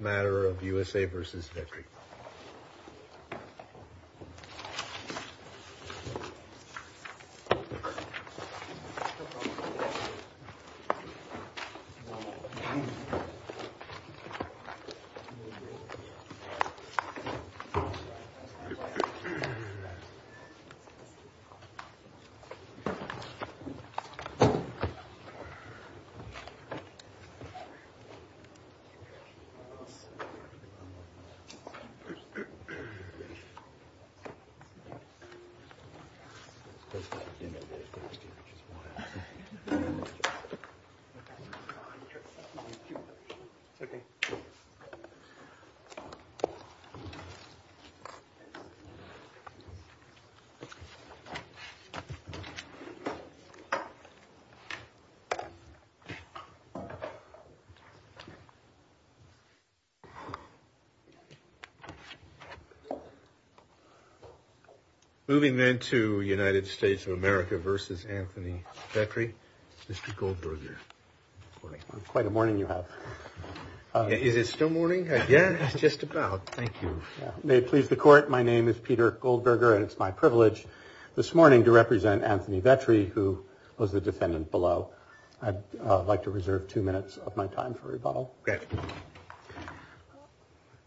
Matter of USA v. Vetri Moving then to United States of America v. Anthony Vetri, Mr. Goldberger. Good morning. Quite a morning you have. Is it still morning? Yeah, it's just about. Thank you. May it please the Court, my name is Peter Goldberger and it's my privilege this morning to represent Anthony Vetri, who was the defendant below. I'd like to reserve two minutes of my time for rebuttal.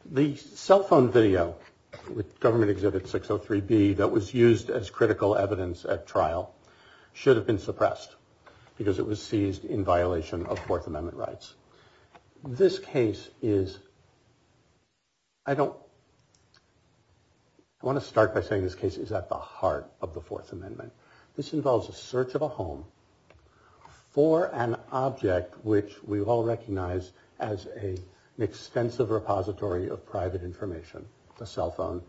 The cell phone video with government exhibit 603B that was used as critical evidence at trial should have been suppressed because it was seized in violation of Fourth Amendment rights. This case is. I don't want to start by saying this case is at the heart of the Fourth Amendment. This involves a search of a home for an object which we all recognize as a extensive repository of private information. The cell phone.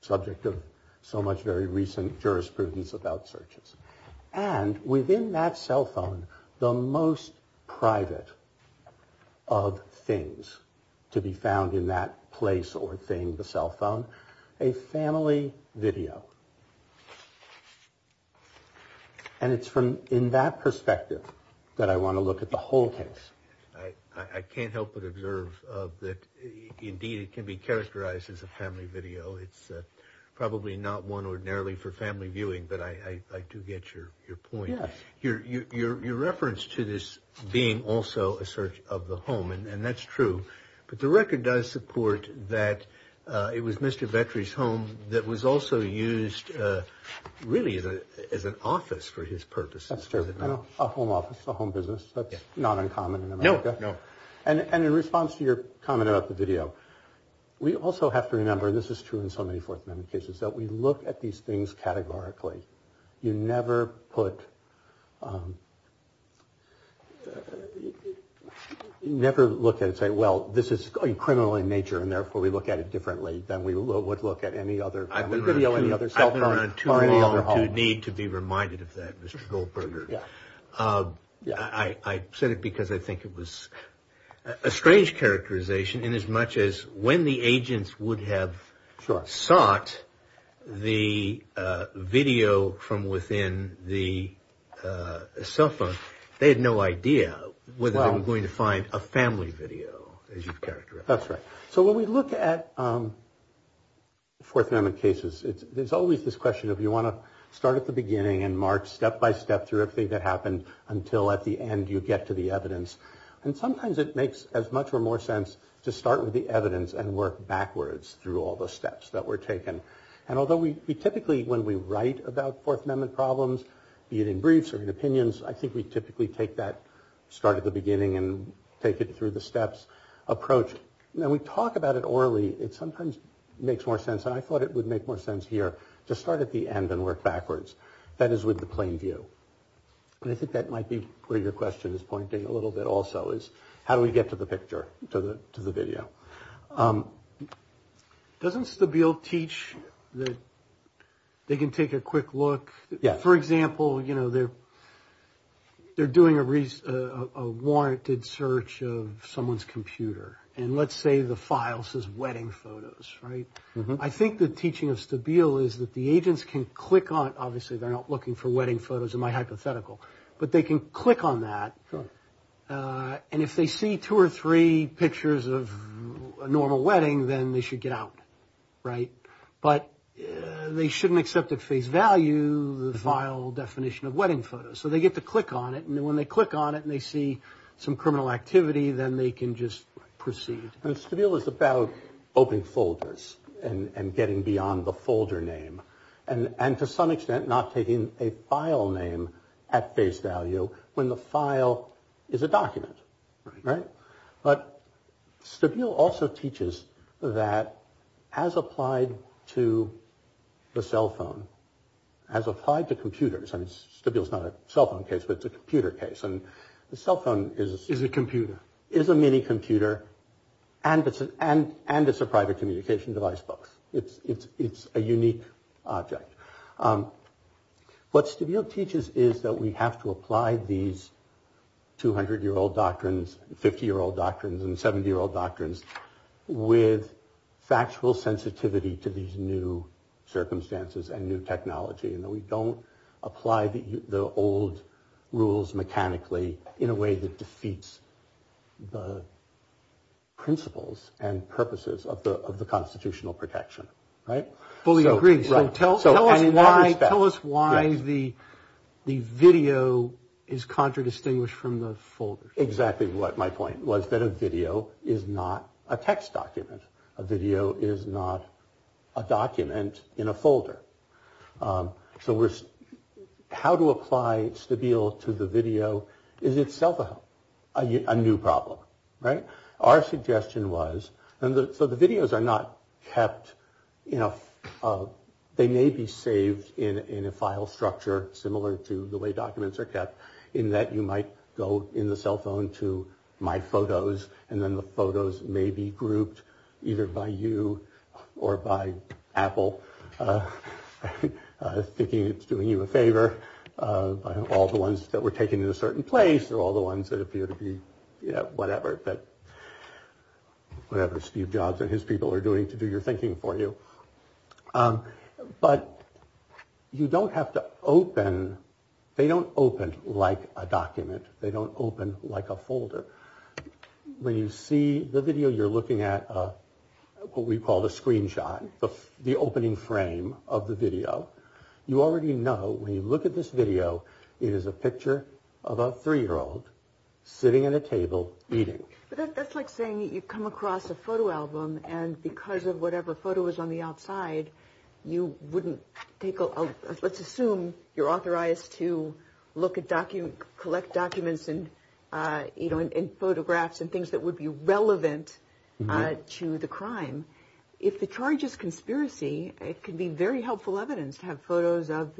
Subject of so much very recent jurisprudence about searches. And within that cell phone, the most private of things to be found in that place or thing, the cell phone, a family video. And it's from in that perspective that I want to look at the whole case. I can't help but observe that. Indeed, it can be characterized as a family video. It's probably not one ordinarily for family viewing, but I like to get your point here. Your reference to this being also a search of the home. And that's true. But the record does support that it was Mr. Vetri's home that was also used really as an office for his purposes. That's true. A home office, a home business. That's not uncommon. No, no. And in response to your comment about the video, we also have to remember this is true in so many Fourth Amendment cases that we look at these things categorically. You never put. You never look at it, say, well, this is criminal in nature, and therefore we look at it differently than we would look at any other video, any other cell phone or any other home. You need to be reminded of that, Mr. Goldberger. I said it because I think it was a strange characterization. And as much as when the agents would have sought the video from within the cell phone, they had no idea whether they were going to find a family video. That's right. So when we look at Fourth Amendment cases, there's always this question of you want to start at the beginning and march step by step through everything that happened until at the end you get to the evidence. And sometimes it makes as much or more sense to start with the evidence and work backwards through all the steps that were taken. And although we typically when we write about Fourth Amendment problems, be it in briefs or in opinions, I think we typically take that start at the beginning and take it through the steps approach. Now, we talk about it orally. It sometimes makes more sense. And I thought it would make more sense here to start at the end and work backwards. That is with the plain view. And I think that might be where your question is pointing a little bit also is how do we get to the picture to the to the video? Doesn't Stabile teach that they can take a quick look? Yeah. For example, you know, they're they're doing a warranted search of someone's computer and let's say the file says wedding photos. Right. I think the teaching of Stabile is that the agents can click on. Obviously, they're not looking for wedding photos in my hypothetical, but they can click on that. And if they see two or three pictures of a normal wedding, then they should get out. Right. But they shouldn't accept at face value the vile definition of wedding photos. So they get to click on it. And when they click on it and they see some criminal activity, then they can just proceed. And Stabile is about opening folders and getting beyond the folder name and to some extent not taking a file name at face value when the file is a document. Right. But Stabile also teaches that as applied to the cell phone. As applied to computers and it's not a cell phone case, but it's a computer case. And the cell phone is a computer, is a mini computer. And it's an and and it's a private communication device. But it's it's it's a unique object. What Stabile teaches is that we have to apply these two hundred year old doctrines, 50 year old doctrines and 70 year old doctrines with factual sensitivity to these new circumstances and new technology. And we don't apply the old rules mechanically in a way that defeats the. Principles and purposes of the of the constitutional protection. Right. Tell us why. Tell us why the the video is contradistinguished from the folder. Exactly what my point was that a video is not a text document. A video is not a document in a folder. So we're how to apply Stabile to the video is itself a new problem. Right. Our suggestion was that the videos are not kept, you know, they may be saved in a file structure similar to the way documents are kept in that. You might go in the cell phone to my photos and then the photos may be grouped either by you or by Apple thinking it's doing you a favor. All the ones that were taken in a certain place are all the ones that appear to be, you know, whatever that whatever Steve Jobs and his people are doing to do your thinking for you. But you don't have to open. They don't open like a document. They don't open like a folder. When you see the video, you're looking at what we call the screenshot, the opening frame of the video. You already know when you look at this video, it is a picture of a three year old sitting at a table eating. But that's like saying you come across a photo album and because of whatever photo is on the outside, you wouldn't take. Let's assume you're authorized to look at document, collect documents and photographs and things that would be relevant to the crime. If the charge is conspiracy, it can be very helpful evidence to have photos of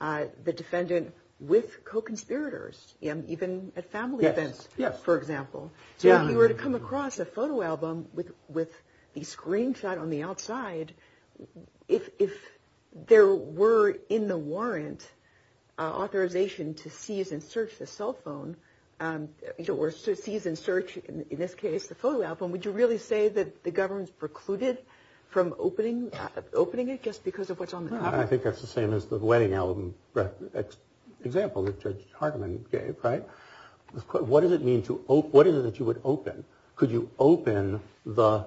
the defendant with co-conspirators, even at family events, for example. So if you were to come across a photo album with with the screenshot on the outside, if there were in the warrant authorization to seize and search the cell phone or seize and search, in this case, the photo album, would you really say that the government's precluded from opening opening it just because of what's on? I think that's the same as the wedding album example that Judge Hartman gave. Right. What does it mean to what is it that you would open? Could you open the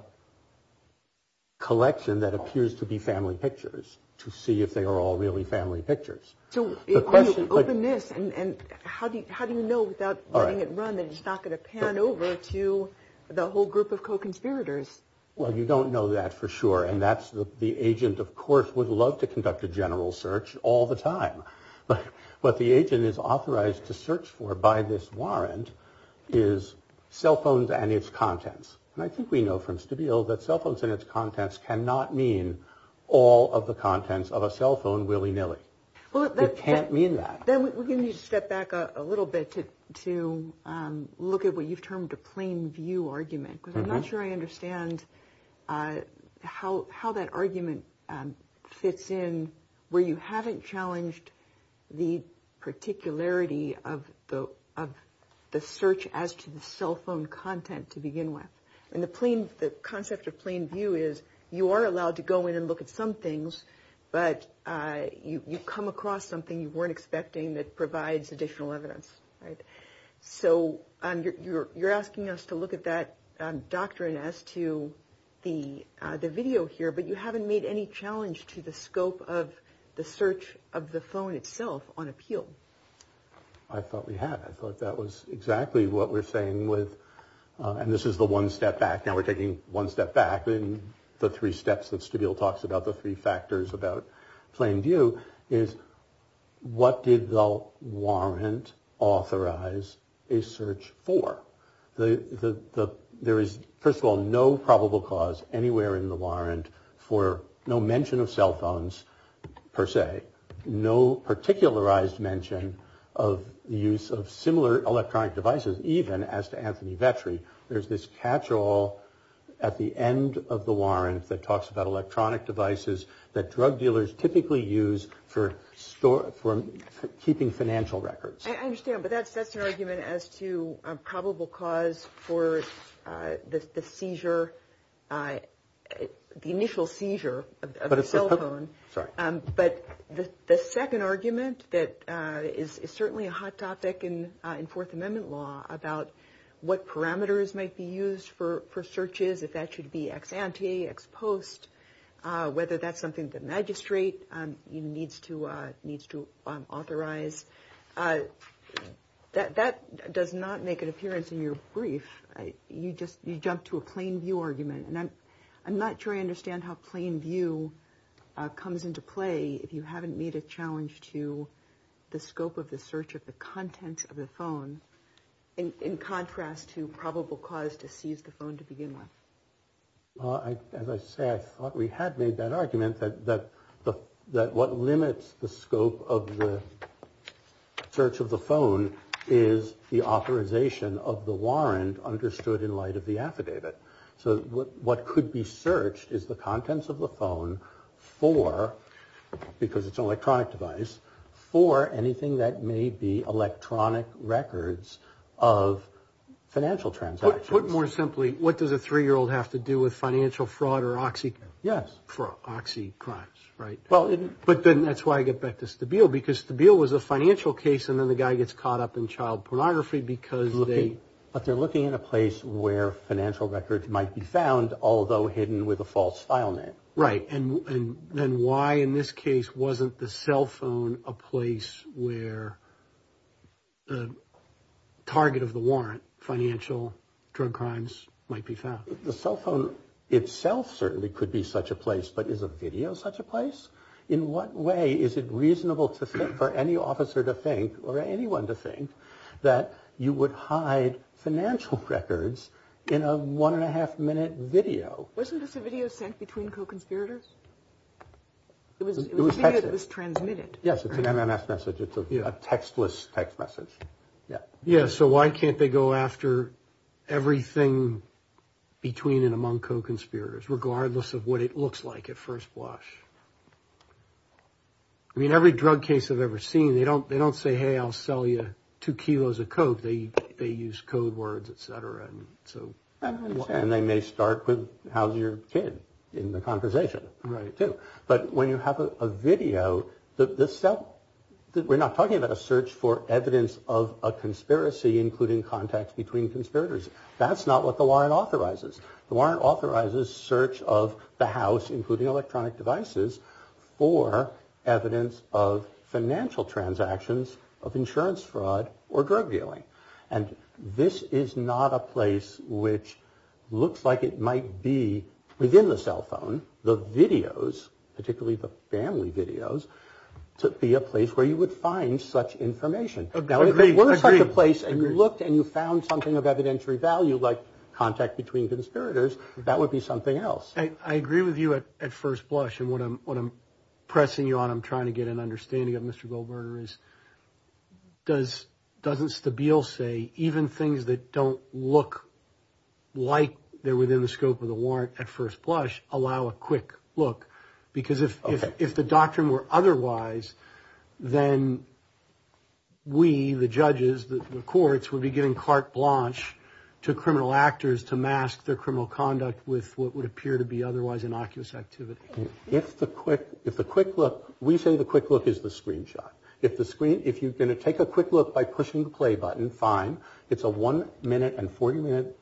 collection that appears to be family pictures to see if they are all really family pictures? Openness. And how do you how do you know without running it run that it's not going to pan over to the whole group of co-conspirators? Well, you don't know that for sure. And that's the agent, of course, would love to conduct a general search all the time. But the agent is authorized to search for by this warrant is cell phones and its contents. And I think we know from Stabile that cell phones and its contents cannot mean all of the contents of a cell phone willy nilly. Well, that can't mean that. Then we're going to step back a little bit to to look at what you've termed a plain view argument. I'm not sure I understand how how that argument fits in where you haven't challenged the particularity of the of the search as to the cell phone content to begin with. And the plain the concept of plain view is you are allowed to go in and look at some things, but you come across something you weren't expecting that provides additional evidence. So you're asking us to look at that doctrine as to the the video here. But you haven't made any challenge to the scope of the search of the phone itself on appeal. I thought we had. I thought that was exactly what we're saying with. And this is the one step back. Now we're taking one step back in the three steps that Stabile talks about. The three factors about plain view is what did the warrant authorize a search for the. There is, first of all, no probable cause anywhere in the warrant for no mention of cell phones per se. No particularized mention of the use of similar electronic devices, even as to Anthony Vetri. There's this catch all at the end of the warrant that talks about electronic devices that drug dealers typically use for store for keeping financial records. I understand. But that's that's an argument as to probable cause for the seizure. The initial seizure of a cell phone. But the second argument that is certainly a hot topic in Fourth Amendment law about what parameters might be used for for searches, if that should be ex ante, ex post, whether that's something that magistrate needs to needs to authorize. That that does not make an appearance in your brief. You just you jump to a plain view argument. And I'm not sure I understand how plain view comes into play. If you haven't made a challenge to the scope of the search of the contents of the phone, in contrast to probable cause to seize the phone to begin with. As I said, I thought we had made that argument that that the that what limits the scope of the search of the phone is the authorization of the warrant understood in light of the affidavit. So what could be searched is the contents of the phone for because it's electronic device for anything that may be electronic records of financial transactions. Put more simply, what does a three year old have to do with financial fraud or oxy? Yes. For oxy crimes. Right. Well, but then that's why I get back to the bill, because the bill was a financial case. And then the guy gets caught up in child pornography because they are looking at a place where financial records might be found, although hidden with a false file name. Right. And then why, in this case, wasn't the cell phone a place where the target of the warrant financial drug crimes might be found? The cell phone itself certainly could be such a place. But is a video such a place? In what way is it reasonable to think for any officer to think or anyone to think that you would hide financial records in a one and a half minute video? Wasn't this a video sent between co-conspirators? It was transmitted. Yes. It's an MMS message. It's a textless text message. Yeah. Yeah. So why can't they go after everything between and among co-conspirators, regardless of what it looks like at first blush? I mean, every drug case I've ever seen, they don't they don't say, hey, I'll sell you two kilos of coke. They they use code words, et cetera. And so and they may start with, how's your kid in the conversation? Right. But when you have a video that this stuff that we're not talking about a search for evidence of a conspiracy, including contacts between conspirators. That's not what the warrant authorizes. The warrant authorizes search of the house, including electronic devices for evidence of financial transactions of insurance fraud or drug dealing. And this is not a place which looks like it might be within the cell phone. The videos, particularly the family videos, to be a place where you would find such information. Place and you looked and you found something of evidentiary value like contact between conspirators. That would be something else. I agree with you at first blush. And what I'm what I'm pressing you on, I'm trying to get an understanding of Mr. Goldberger is. Does doesn't Stabile say even things that don't look like they're within the scope of the warrant at first blush allow a quick look? Because if if the doctrine were otherwise, then. We, the judges, the courts would be giving carte blanche to criminal actors to mask their criminal conduct with what would appear to be otherwise innocuous activity. If the quick if the quick look, we say the quick look is the screenshot. If the screen if you're going to take a quick look by pushing the play button, fine. It's a one minute and 40 minute,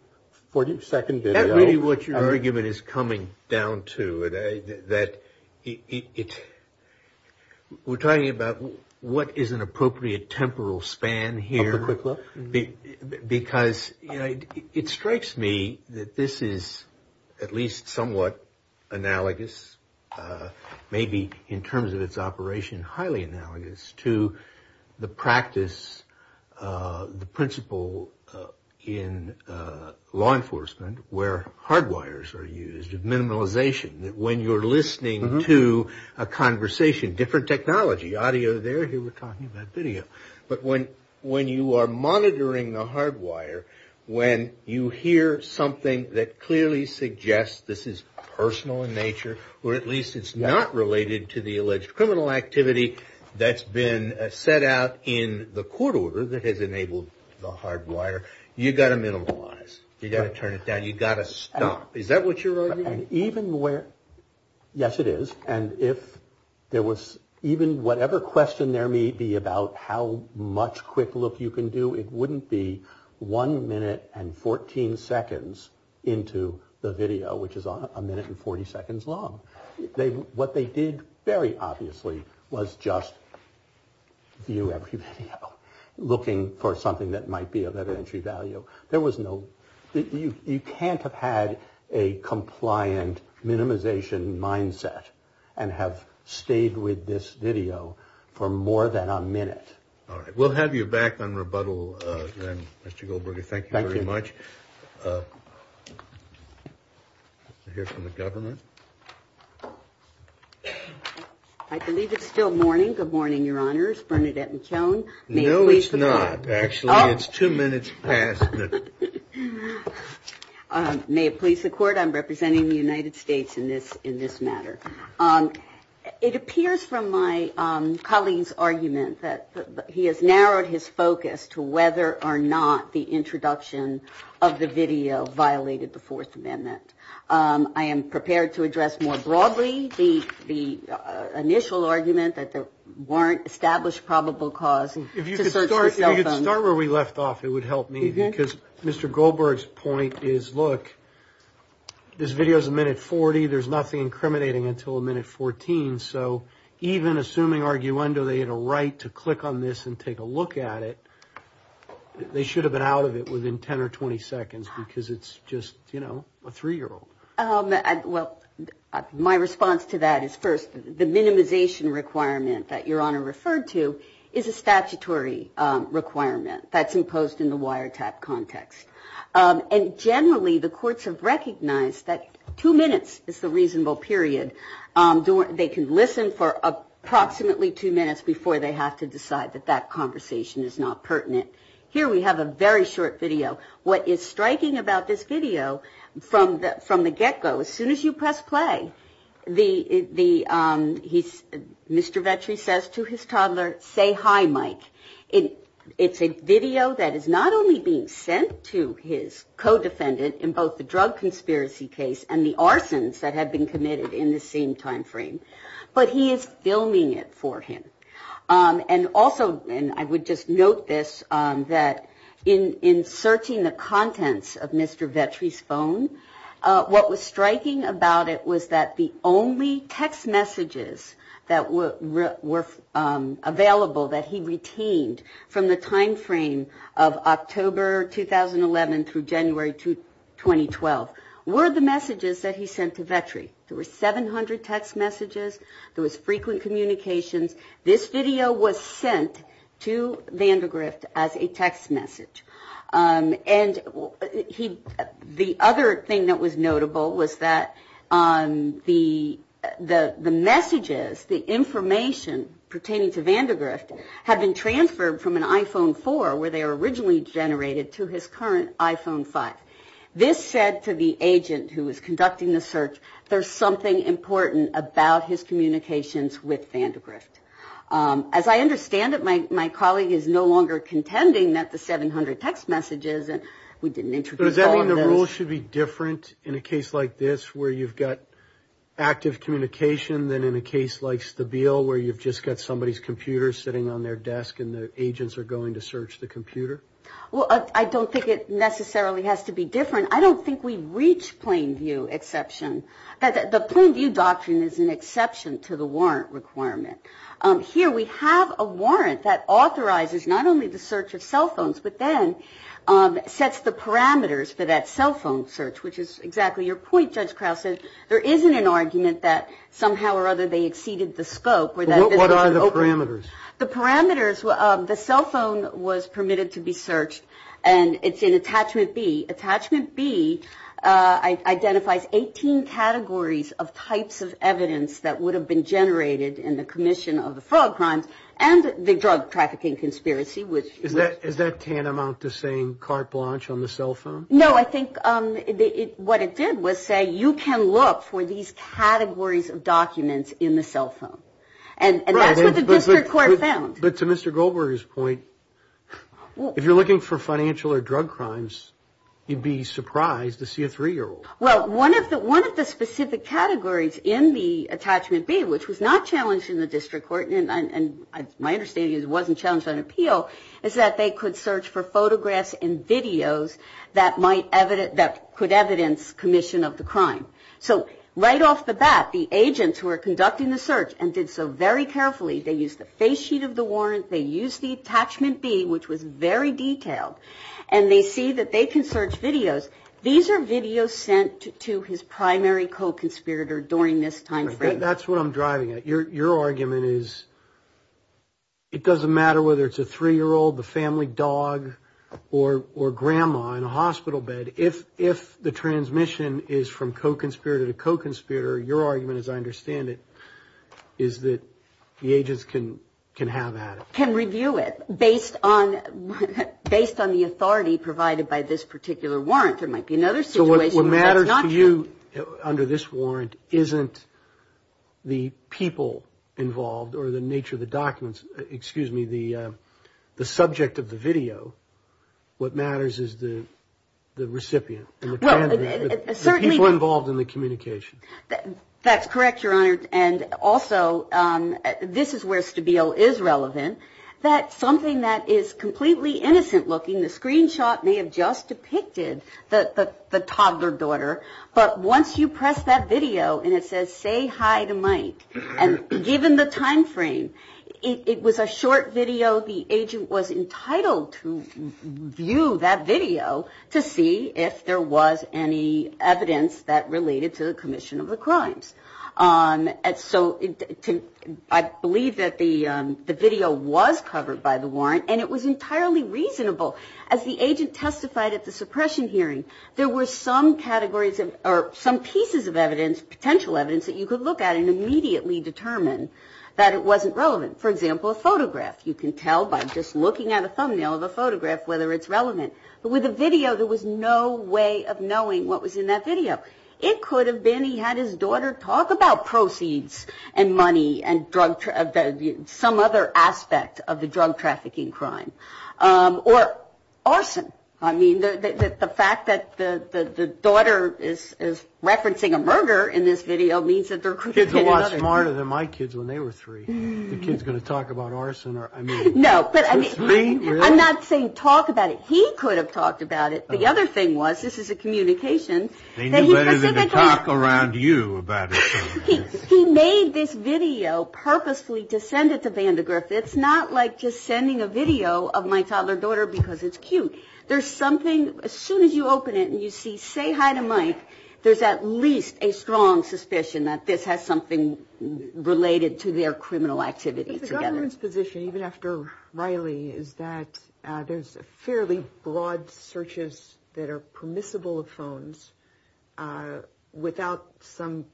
40 second. That really what your argument is coming down to it, that it we're talking about. What is an appropriate temporal span here? Because, you know, it strikes me that this is at least somewhat analogous, maybe in terms of its operation, highly analogous to the practice, the principle in law enforcement where hardwires are used, minimalization that when you're listening to a conversation, different technology, audio there. We're talking about video. But when when you are monitoring the hardwire, when you hear something that clearly suggests this is personal in nature, or at least it's not related to the alleged criminal activity that's been set out in the court order that has enabled the hardwire. You've got to minimize. You've got to turn it down. You've got to stop. Is that what you're even aware? Yes, it is. And if there was even whatever question there may be about how much quick look you can do, it wouldn't be one minute and 14 seconds into the video, which is a minute and 40 seconds long. They what they did very obviously was just view every video looking for something that might be of entry value. There was no you can't have had a compliant minimization mindset and have stayed with this video for more than a minute. All right. We'll have you back on rebuttal. Mr. Goldberger, thank you very much. Here from the government. I believe it's still morning. No, it's not. Actually, it's two minutes past. May it please the court. I'm representing the United States in this in this matter. It appears from my colleagues argument that he has narrowed his focus to whether or not the introduction of the video violated the Fourth Amendment. I am prepared to address more broadly the the initial argument that there weren't established probable cause. And if you could start where we left off, it would help me because Mr. Goldberg's point is, look, this video is a minute 40. There's nothing incriminating until a minute 14. So even assuming argue under they had a right to click on this and take a look at it, they should have been out of it within 10 or 20 seconds because it's just, you know, a three year old. Well, my response to that is first, the minimization requirement that your honor referred to is a statutory requirement that's imposed in the wiretap context. And generally, the courts have recognized that two minutes is the reasonable period. They can listen for approximately two minutes before they have to decide that that conversation is not pertinent. Here we have a very short video. What is striking about this video from the from the get go, as soon as you press play, the the he's Mr. Vetri says to his toddler, say hi, Mike. It's a video that is not only being sent to his co-defendant in both the drug conspiracy case and the arsons that have been committed in the same time frame, but he is filming it for him. And also, and I would just note this, that in in searching the contents of Mr. from the time frame of October 2011 through January 2012, were the messages that he sent to Vetri. There were 700 text messages. There was frequent communications. This video was sent to Vandergrift as a text message. And he the other thing that was notable was that the the the messages, the information pertaining to Vandergrift had been transferred from an iPhone four where they were originally generated to his current iPhone five. This said to the agent who was conducting the search, there's something important about his communications with Vandergrift. As I understand it, my my colleague is no longer contending that the 700 text messages that we didn't introduce. Does that mean the rules should be different in a case like this where you've got active communication than in a case like the bill where you've just got somebody's computer sitting on their desk and the agents are going to search the computer? Well, I don't think it necessarily has to be different. I don't think we reach plain view exception. The plain view doctrine is an exception to the warrant requirement. Here we have a warrant that authorizes not only the search of cell phones, but then sets the parameters for that cell phone search, which is exactly your point. Judge Krause said there isn't an argument that somehow or other they exceeded the scope. What are the parameters? The parameters, the cell phone was permitted to be searched and it's in Attachment B. Attachment B identifies 18 categories of types of evidence that would have been generated in the commission of the fraud crimes and the drug trafficking conspiracy. Is that tantamount to saying carte blanche on the cell phone? No, I think what it did was say you can look for these categories of documents in the cell phone. And that's what the district court found. But to Mr. Goldberger's point, if you're looking for financial or drug crimes, you'd be surprised to see a three-year-old. Well, one of the specific categories in the Attachment B, which was not challenged in the district court, and my understanding is it wasn't challenged on appeal, is that they could search for photographs and videos that could evidence commission of the crime. So right off the bat, the agents who are conducting the search and did so very carefully, they used the face sheet of the warrant, they used the Attachment B, which was very detailed. And they see that they can search videos. These are videos sent to his primary co-conspirator during this time frame. That's what I'm driving at. Your argument is it doesn't matter whether it's a three-year-old, the family dog, or grandma in a hospital bed. If the transmission is from co-conspirator to co-conspirator, your argument, as I understand it, is that the agents can have at it. Can review it based on the authority provided by this particular warrant. There might be another situation where that's not true. So what matters to you under this warrant isn't the people involved or the nature of the documents, excuse me, the subject of the video. What matters is the recipient and the candidate, the people involved in the communication. That's correct, Your Honor. And also, this is where Stabile is relevant, that something that is completely innocent-looking, the screenshot may have just depicted the toddler daughter. But once you press that video and it says, say hi to Mike, and given the time frame, it was a short video the agent was entitled to. You can view that video to see if there was any evidence that related to the commission of the crimes. So I believe that the video was covered by the warrant, and it was entirely reasonable. As the agent testified at the suppression hearing, there were some categories or some pieces of evidence, potential evidence, that you could look at and immediately determine that it wasn't relevant. For example, a photograph. You can tell by just looking at a thumbnail of a photograph whether it's relevant. But with the video, there was no way of knowing what was in that video. It could have been he had his daughter talk about proceeds and money and some other aspect of the drug trafficking crime. Or arson. I mean, the fact that the daughter is referencing a murder in this video means that they're recruiting another kid. I'm not saying talk about it. He could have talked about it. The other thing was, this is a communication. He made this video purposefully to send it to Vandegriff. It's not like just sending a video of my toddler daughter because it's cute. There's something, as soon as you open it and you see, say hi to Mike, there's at least a strong suspicion that this has something to do with Vandegriff. Related to their criminal activity together. The government's position, even after Riley, is that there's fairly broad searches that are permissible of phones without some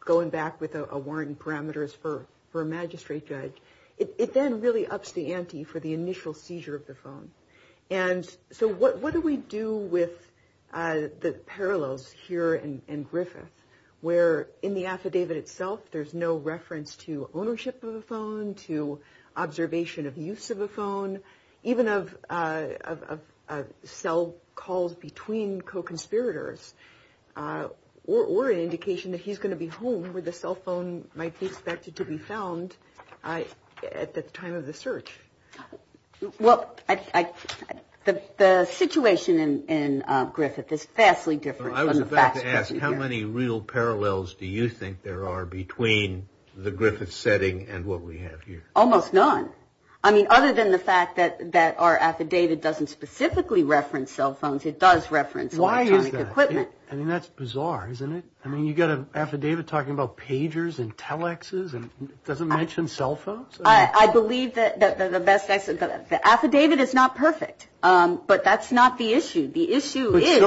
going back with a warrant and parameters for a magistrate judge. It then really ups the ante for the initial seizure of the phone. And so what do we do with the parallels here in Griffith, where in the affidavit itself, there's no reference to ownership of a phone, to observation of use of a phone. Even of cell calls between co-conspirators or an indication that he's going to be home where the cell phone might be expected to be found at the time of the search. Well, the situation in Griffith is vastly different. I was about to ask, how many real parallels do you think there are between the Griffith setting and what we have here? Almost none. I mean, other than the fact that our affidavit doesn't specifically reference cell phones, it does reference electronic equipment. I mean, that's bizarre, isn't it? I mean, you've got an affidavit talking about pagers and telexes and it doesn't mention cell phones? I believe that the best access, the affidavit is not perfect, but that's not the issue. The issue is...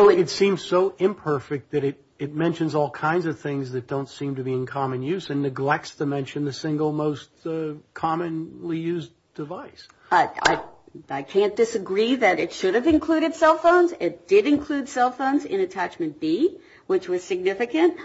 I can't disagree that it should have included cell phones. It did include cell phones in attachment B, which was significant,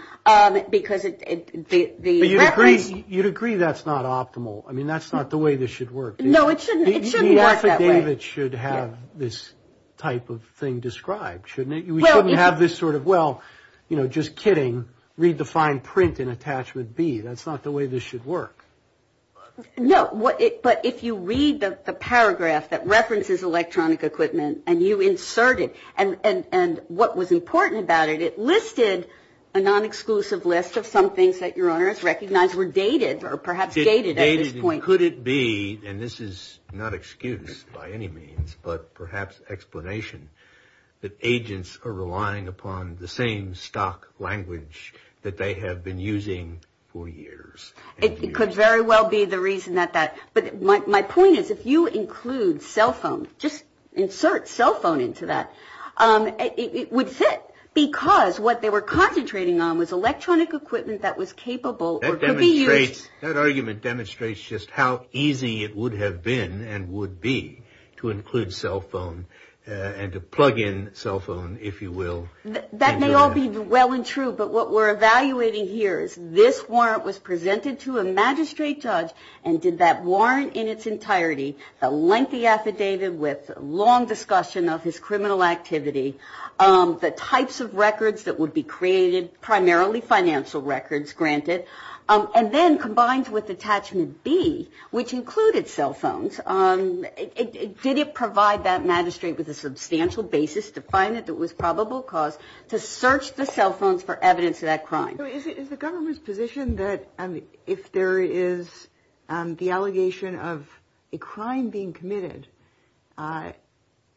because the reference... But you'd agree that's not optimal. I mean, that's not the way this should work. No, it shouldn't. It shouldn't work that way. The affidavit should have this type of thing described, shouldn't it? We shouldn't have this sort of, well, you know, just kidding, redefine print in attachment B. That's not the way this should work. No, but if you read the paragraph that references electronic equipment and you insert it, and what was important about it, it listed a non-exclusive list of some things that Your Honor has recognized were dated or perhaps gated at this point. Could it be, and this is not excuse by any means, but perhaps explanation, that agents are relying upon the same stock language that they have been using for years? It could very well be the reason that that, but my point is if you include cell phone, just insert cell phone into that, it would fit. Because what they were concentrating on was electronic equipment that was capable or could be used... That argument demonstrates just how easy it would have been and would be to include cell phone and to plug in cell phone, if you will. That may all be well and true, but what we're evaluating here is this warrant was presented to a magistrate judge and did that warrant in its entirety, the lengthy affidavit with long discussion of his criminal activity, the types of records that would be created, primarily financial records granted, and then combined with attachment B, which included cell phones, did it provide that magistrate with a substantial basis to find it that was probable cause of the crime? It did provide that magistrate with a substantial basis to search the cell phones for evidence of that crime. Is the government's position that if there is the allegation of a crime being committed,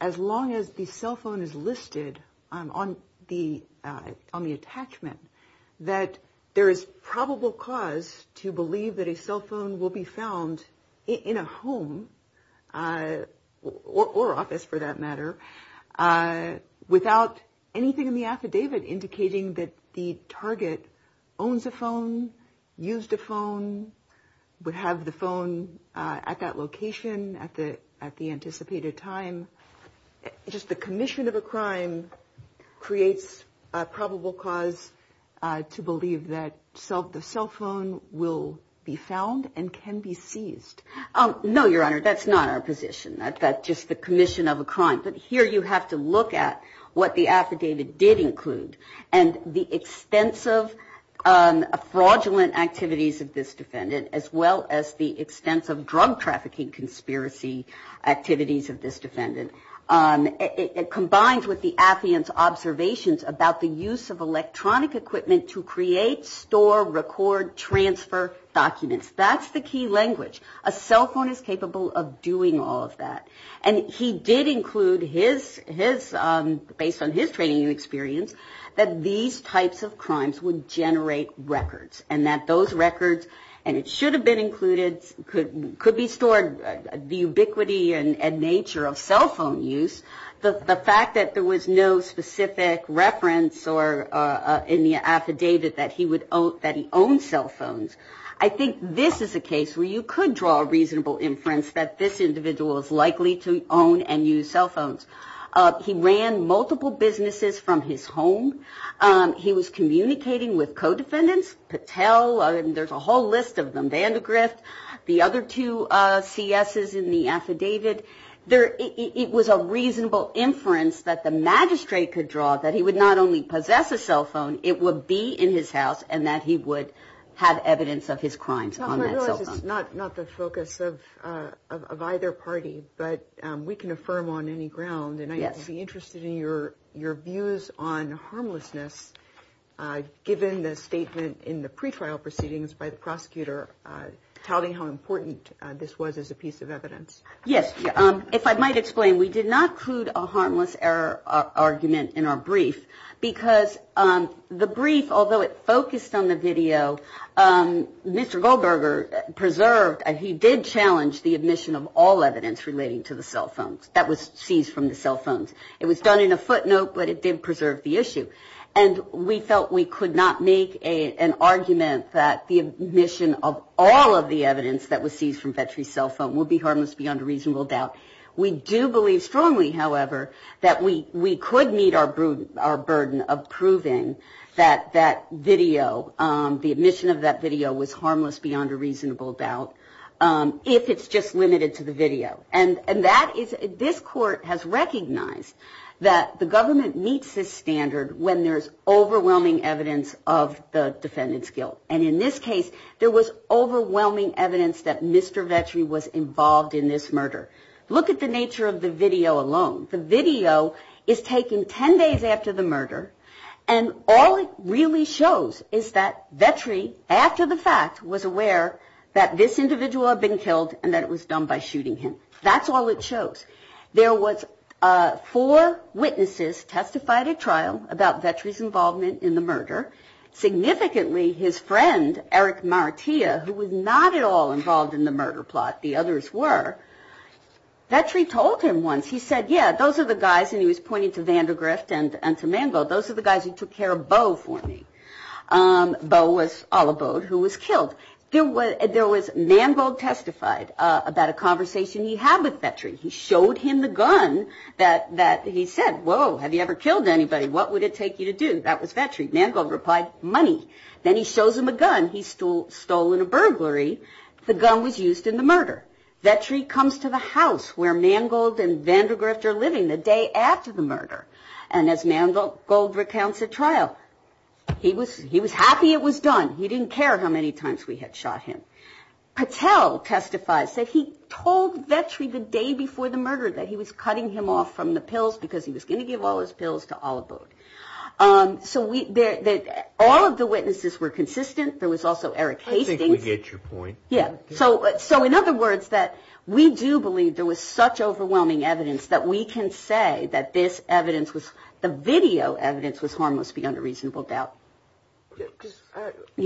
as long as the cell phone is listed on the attachment, that there is probable cause to believe that a cell phone will be found in a home or office, for that matter, without anything in the form of a warrant? And in the affidavit indicating that the target owns a phone, used a phone, would have the phone at that location at the anticipated time, just the commission of a crime creates a probable cause to believe that the cell phone will be found and can be seized? No, Your Honor, that's not our position. That's just the commission of a crime. But it did include, and the extensive fraudulent activities of this defendant, as well as the extensive drug trafficking conspiracy activities of this defendant, it combines with the affiant's observations about the use of electronic equipment to create, store, record, transfer documents. That's the key language. A cell phone is capable of doing all of that. And he did include his, based on his training and experience, that these types of crimes would generate records, and that those records, and it should have been included, could be stored, the ubiquity and nature of cell phone use. The fact that there was no specific reference in the affidavit that he owned cell phones. I think this is a case where you could draw a reasonable inference that this individual is likely to own and use cell phones. He ran multiple businesses from his home. He was communicating with co-defendants, Patel, there's a whole list of them, Vandegrift, the other two CSs in the affidavit. It was a reasonable inference that the magistrate could draw that he would not only possess a cell phone, it would be in his house, and that he would have evidence of it. I realize it's not the focus of either party, but we can affirm on any ground, and I'd be interested in your views on harmlessness, given the statement in the pre-trial proceedings by the prosecutor touting how important this was as a piece of evidence. Yes. If I might explain, we did not include a harmless error argument in our brief, because the brief, although it focused on the video, it did not include a harmless error argument. Mr. Goldberger preserved, he did challenge the admission of all evidence relating to the cell phones that was seized from the cell phones. It was done in a footnote, but it did preserve the issue, and we felt we could not make an argument that the admission of all of the evidence that was seized from Vetri's cell phone would be harmless beyond a reasonable doubt. We do believe strongly, however, that we could meet our burden of proving that that video, the admission of that video was seized from Vetri's cell phone. It was harmless beyond a reasonable doubt, if it's just limited to the video. And that is, this court has recognized that the government meets this standard when there's overwhelming evidence of the defendant's guilt. And in this case, there was overwhelming evidence that Mr. Vetri was involved in this murder. Look at the nature of the video alone. The video is taken 10 days after the murder, and all it really shows is that Vetri, after the fact, was aware that this individual had been killed and that it was done by shooting him. That's all it shows. There was four witnesses testified at trial about Vetri's involvement in the murder. Significantly, his friend, Eric Martia, who was not at all involved in the murder plot, the others were, Vetri told him once, he said, yeah, those are the guys, and he was pointing to Vandergrift and to Manvold, those are the guys who took care of Beau for me. Beau was all about who was killed. There was, Manvold testified about a conversation he had with Vetri. He showed him the gun that he said, whoa, have you ever killed anybody? What would it take you to do? That was Vetri. Manvold replied, money. Then he shows him a gun he stole in a burglary. The gun was used in the murder. Vetri comes to the house where Manvold and Vandergrift are living the day after the murder, and as Manvold recounts at trial, he was happy it was done. He didn't care how many times we had shot him. Patel testified, said he told Vetri the day before the murder that he was cutting him off from the pills because he was going to give all his pills to Oliver. All of the witnesses were consistent. There was also Eric Hastings. In other words, we do believe there was such overwhelming evidence that we can say that this evidence, the video evidence, was harmless beyond a reasonable doubt. You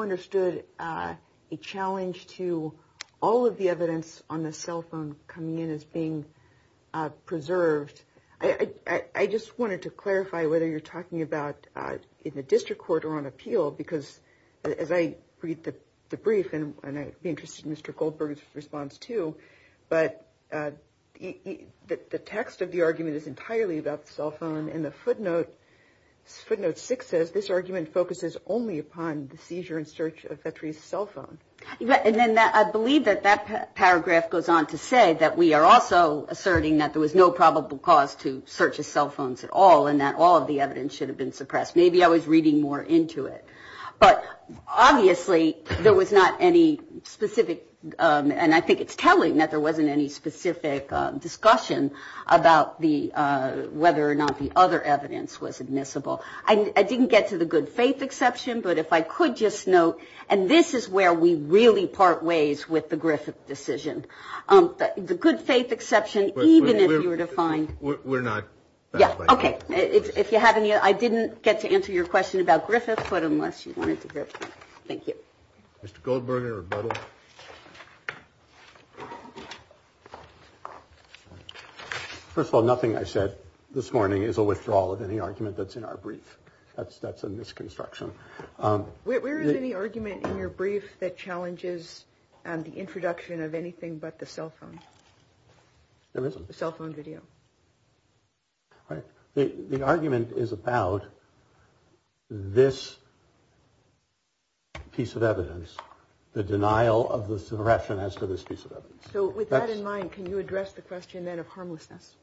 understood a challenge to all of the evidence on the cell phone coming in as being preserved. I just wanted to clarify whether you're talking about in the district court or on appeal, because as I read the brief, and I'd be interested in Mr. Goldberg's response too, but the text of the argument is entirely about the cell phone. And the footnote, footnote six says this argument focuses only upon the seizure and search of Vetri's cell phone. And then I believe that that paragraph goes on to say that we are also asserting that there was no probable cause to search his cell phones at all, and that all of the evidence should have been suppressed. Maybe I was reading more into it. But obviously there was not any specific, and I think it's telling that there wasn't any specific discussion about whether or not the other evidence was admissible. I didn't get to the good faith exception, but if I could just note, and this is where we really part ways with the Griffith decision. The good faith exception, even if you were to find... I didn't get to answer your question about Griffith, but unless you wanted to, thank you. First of all, nothing I said this morning is a withdrawal of any argument that's in our brief. That's a misconstruction. Where is any argument in your brief that challenges the introduction of anything but the cell phone? There isn't. The cell phone video. The argument is about this piece of evidence, the denial of the suppression as to this piece of evidence. So with that in mind, can you address the question then of harmlessness?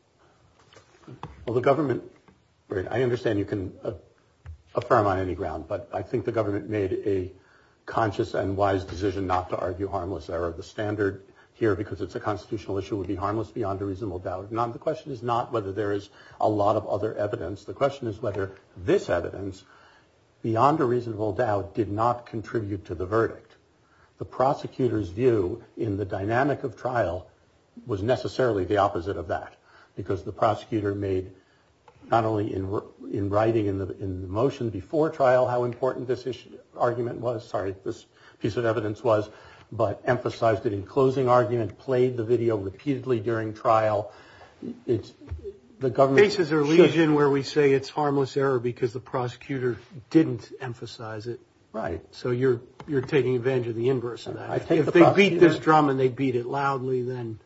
I understand you can affirm on any ground, but I think the government made a conscious and wise decision not to argue harmless error. The standard here, because it's a constitutional issue, would be harmless beyond a reasonable doubt. The question is not whether there is a lot of other evidence. The question is whether this evidence, beyond a reasonable doubt, did not contribute to the verdict. The prosecutor's view in the dynamic of trial was necessarily the opposite of that, because the prosecutor made, not only in writing in the motion before trial how important this argument was, sorry, this piece of evidence was, but emphasized it in closing argument, played the video repeatedly during trial. Faces are lesion where we say it's harmless error because the prosecutor didn't emphasize it. Right. So you're taking advantage of the inverse of that. If they beat this drum and they beat it loudly, then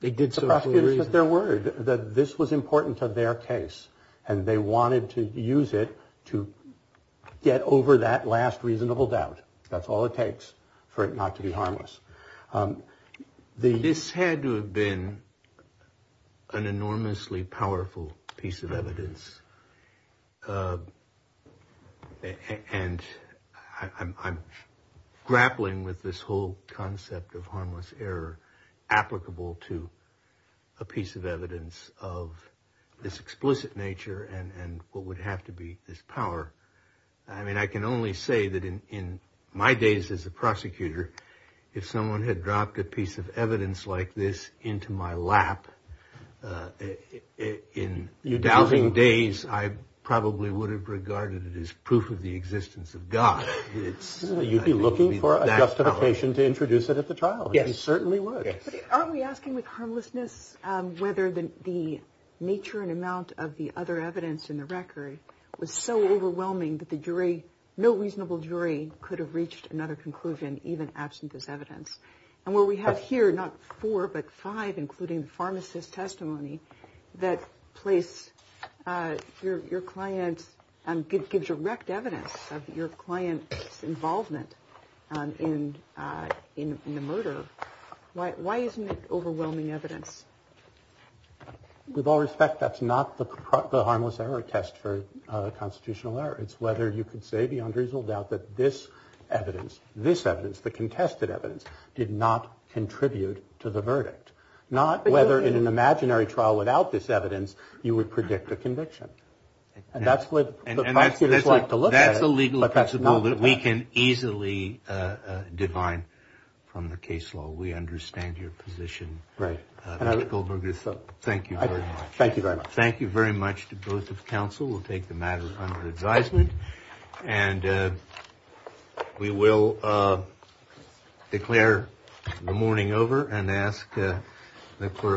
they did so for a reason. The prosecutors put their word that this was important to their case and they wanted to use it to get over that last reasonable doubt. That's all it takes for it not to be harmless. This had to have been an enormously powerful piece of evidence. And I'm grappling with this whole concept of harmless error applicable to a piece of evidence of this explicit nature and what would have to be this power. I mean, I can only say that in my days as a prosecutor, if someone had dropped a piece of evidence like this into my lap in dousing days, I probably would have regarded it as proof of the existence of God. You'd be looking for a justification to introduce it at the trial. Yes, certainly. Are we asking with harmlessness whether the nature and amount of the other evidence in the record was so overwhelming that the jury? No reasonable jury could have reached another conclusion, even absent this evidence. And what we have here, not four, but five, including pharmacist testimony that place your clients and gives direct evidence of your client's involvement in the murder. Why isn't it overwhelming evidence with all respect? That's not the harmless error test for constitutional error. It's whether you could say the unreasonable doubt that this evidence, this evidence, the contested evidence did not contribute to the verdict. Not whether in an imaginary trial without this evidence, you would predict a conviction. And that's what I like to look at. That's a legal principle that we can easily define from the case law. We understand your position. Right. Thank you very much. Thank you very much to both of counsel. We'll take the matter under advisement and we will declare the morning over and ask the court.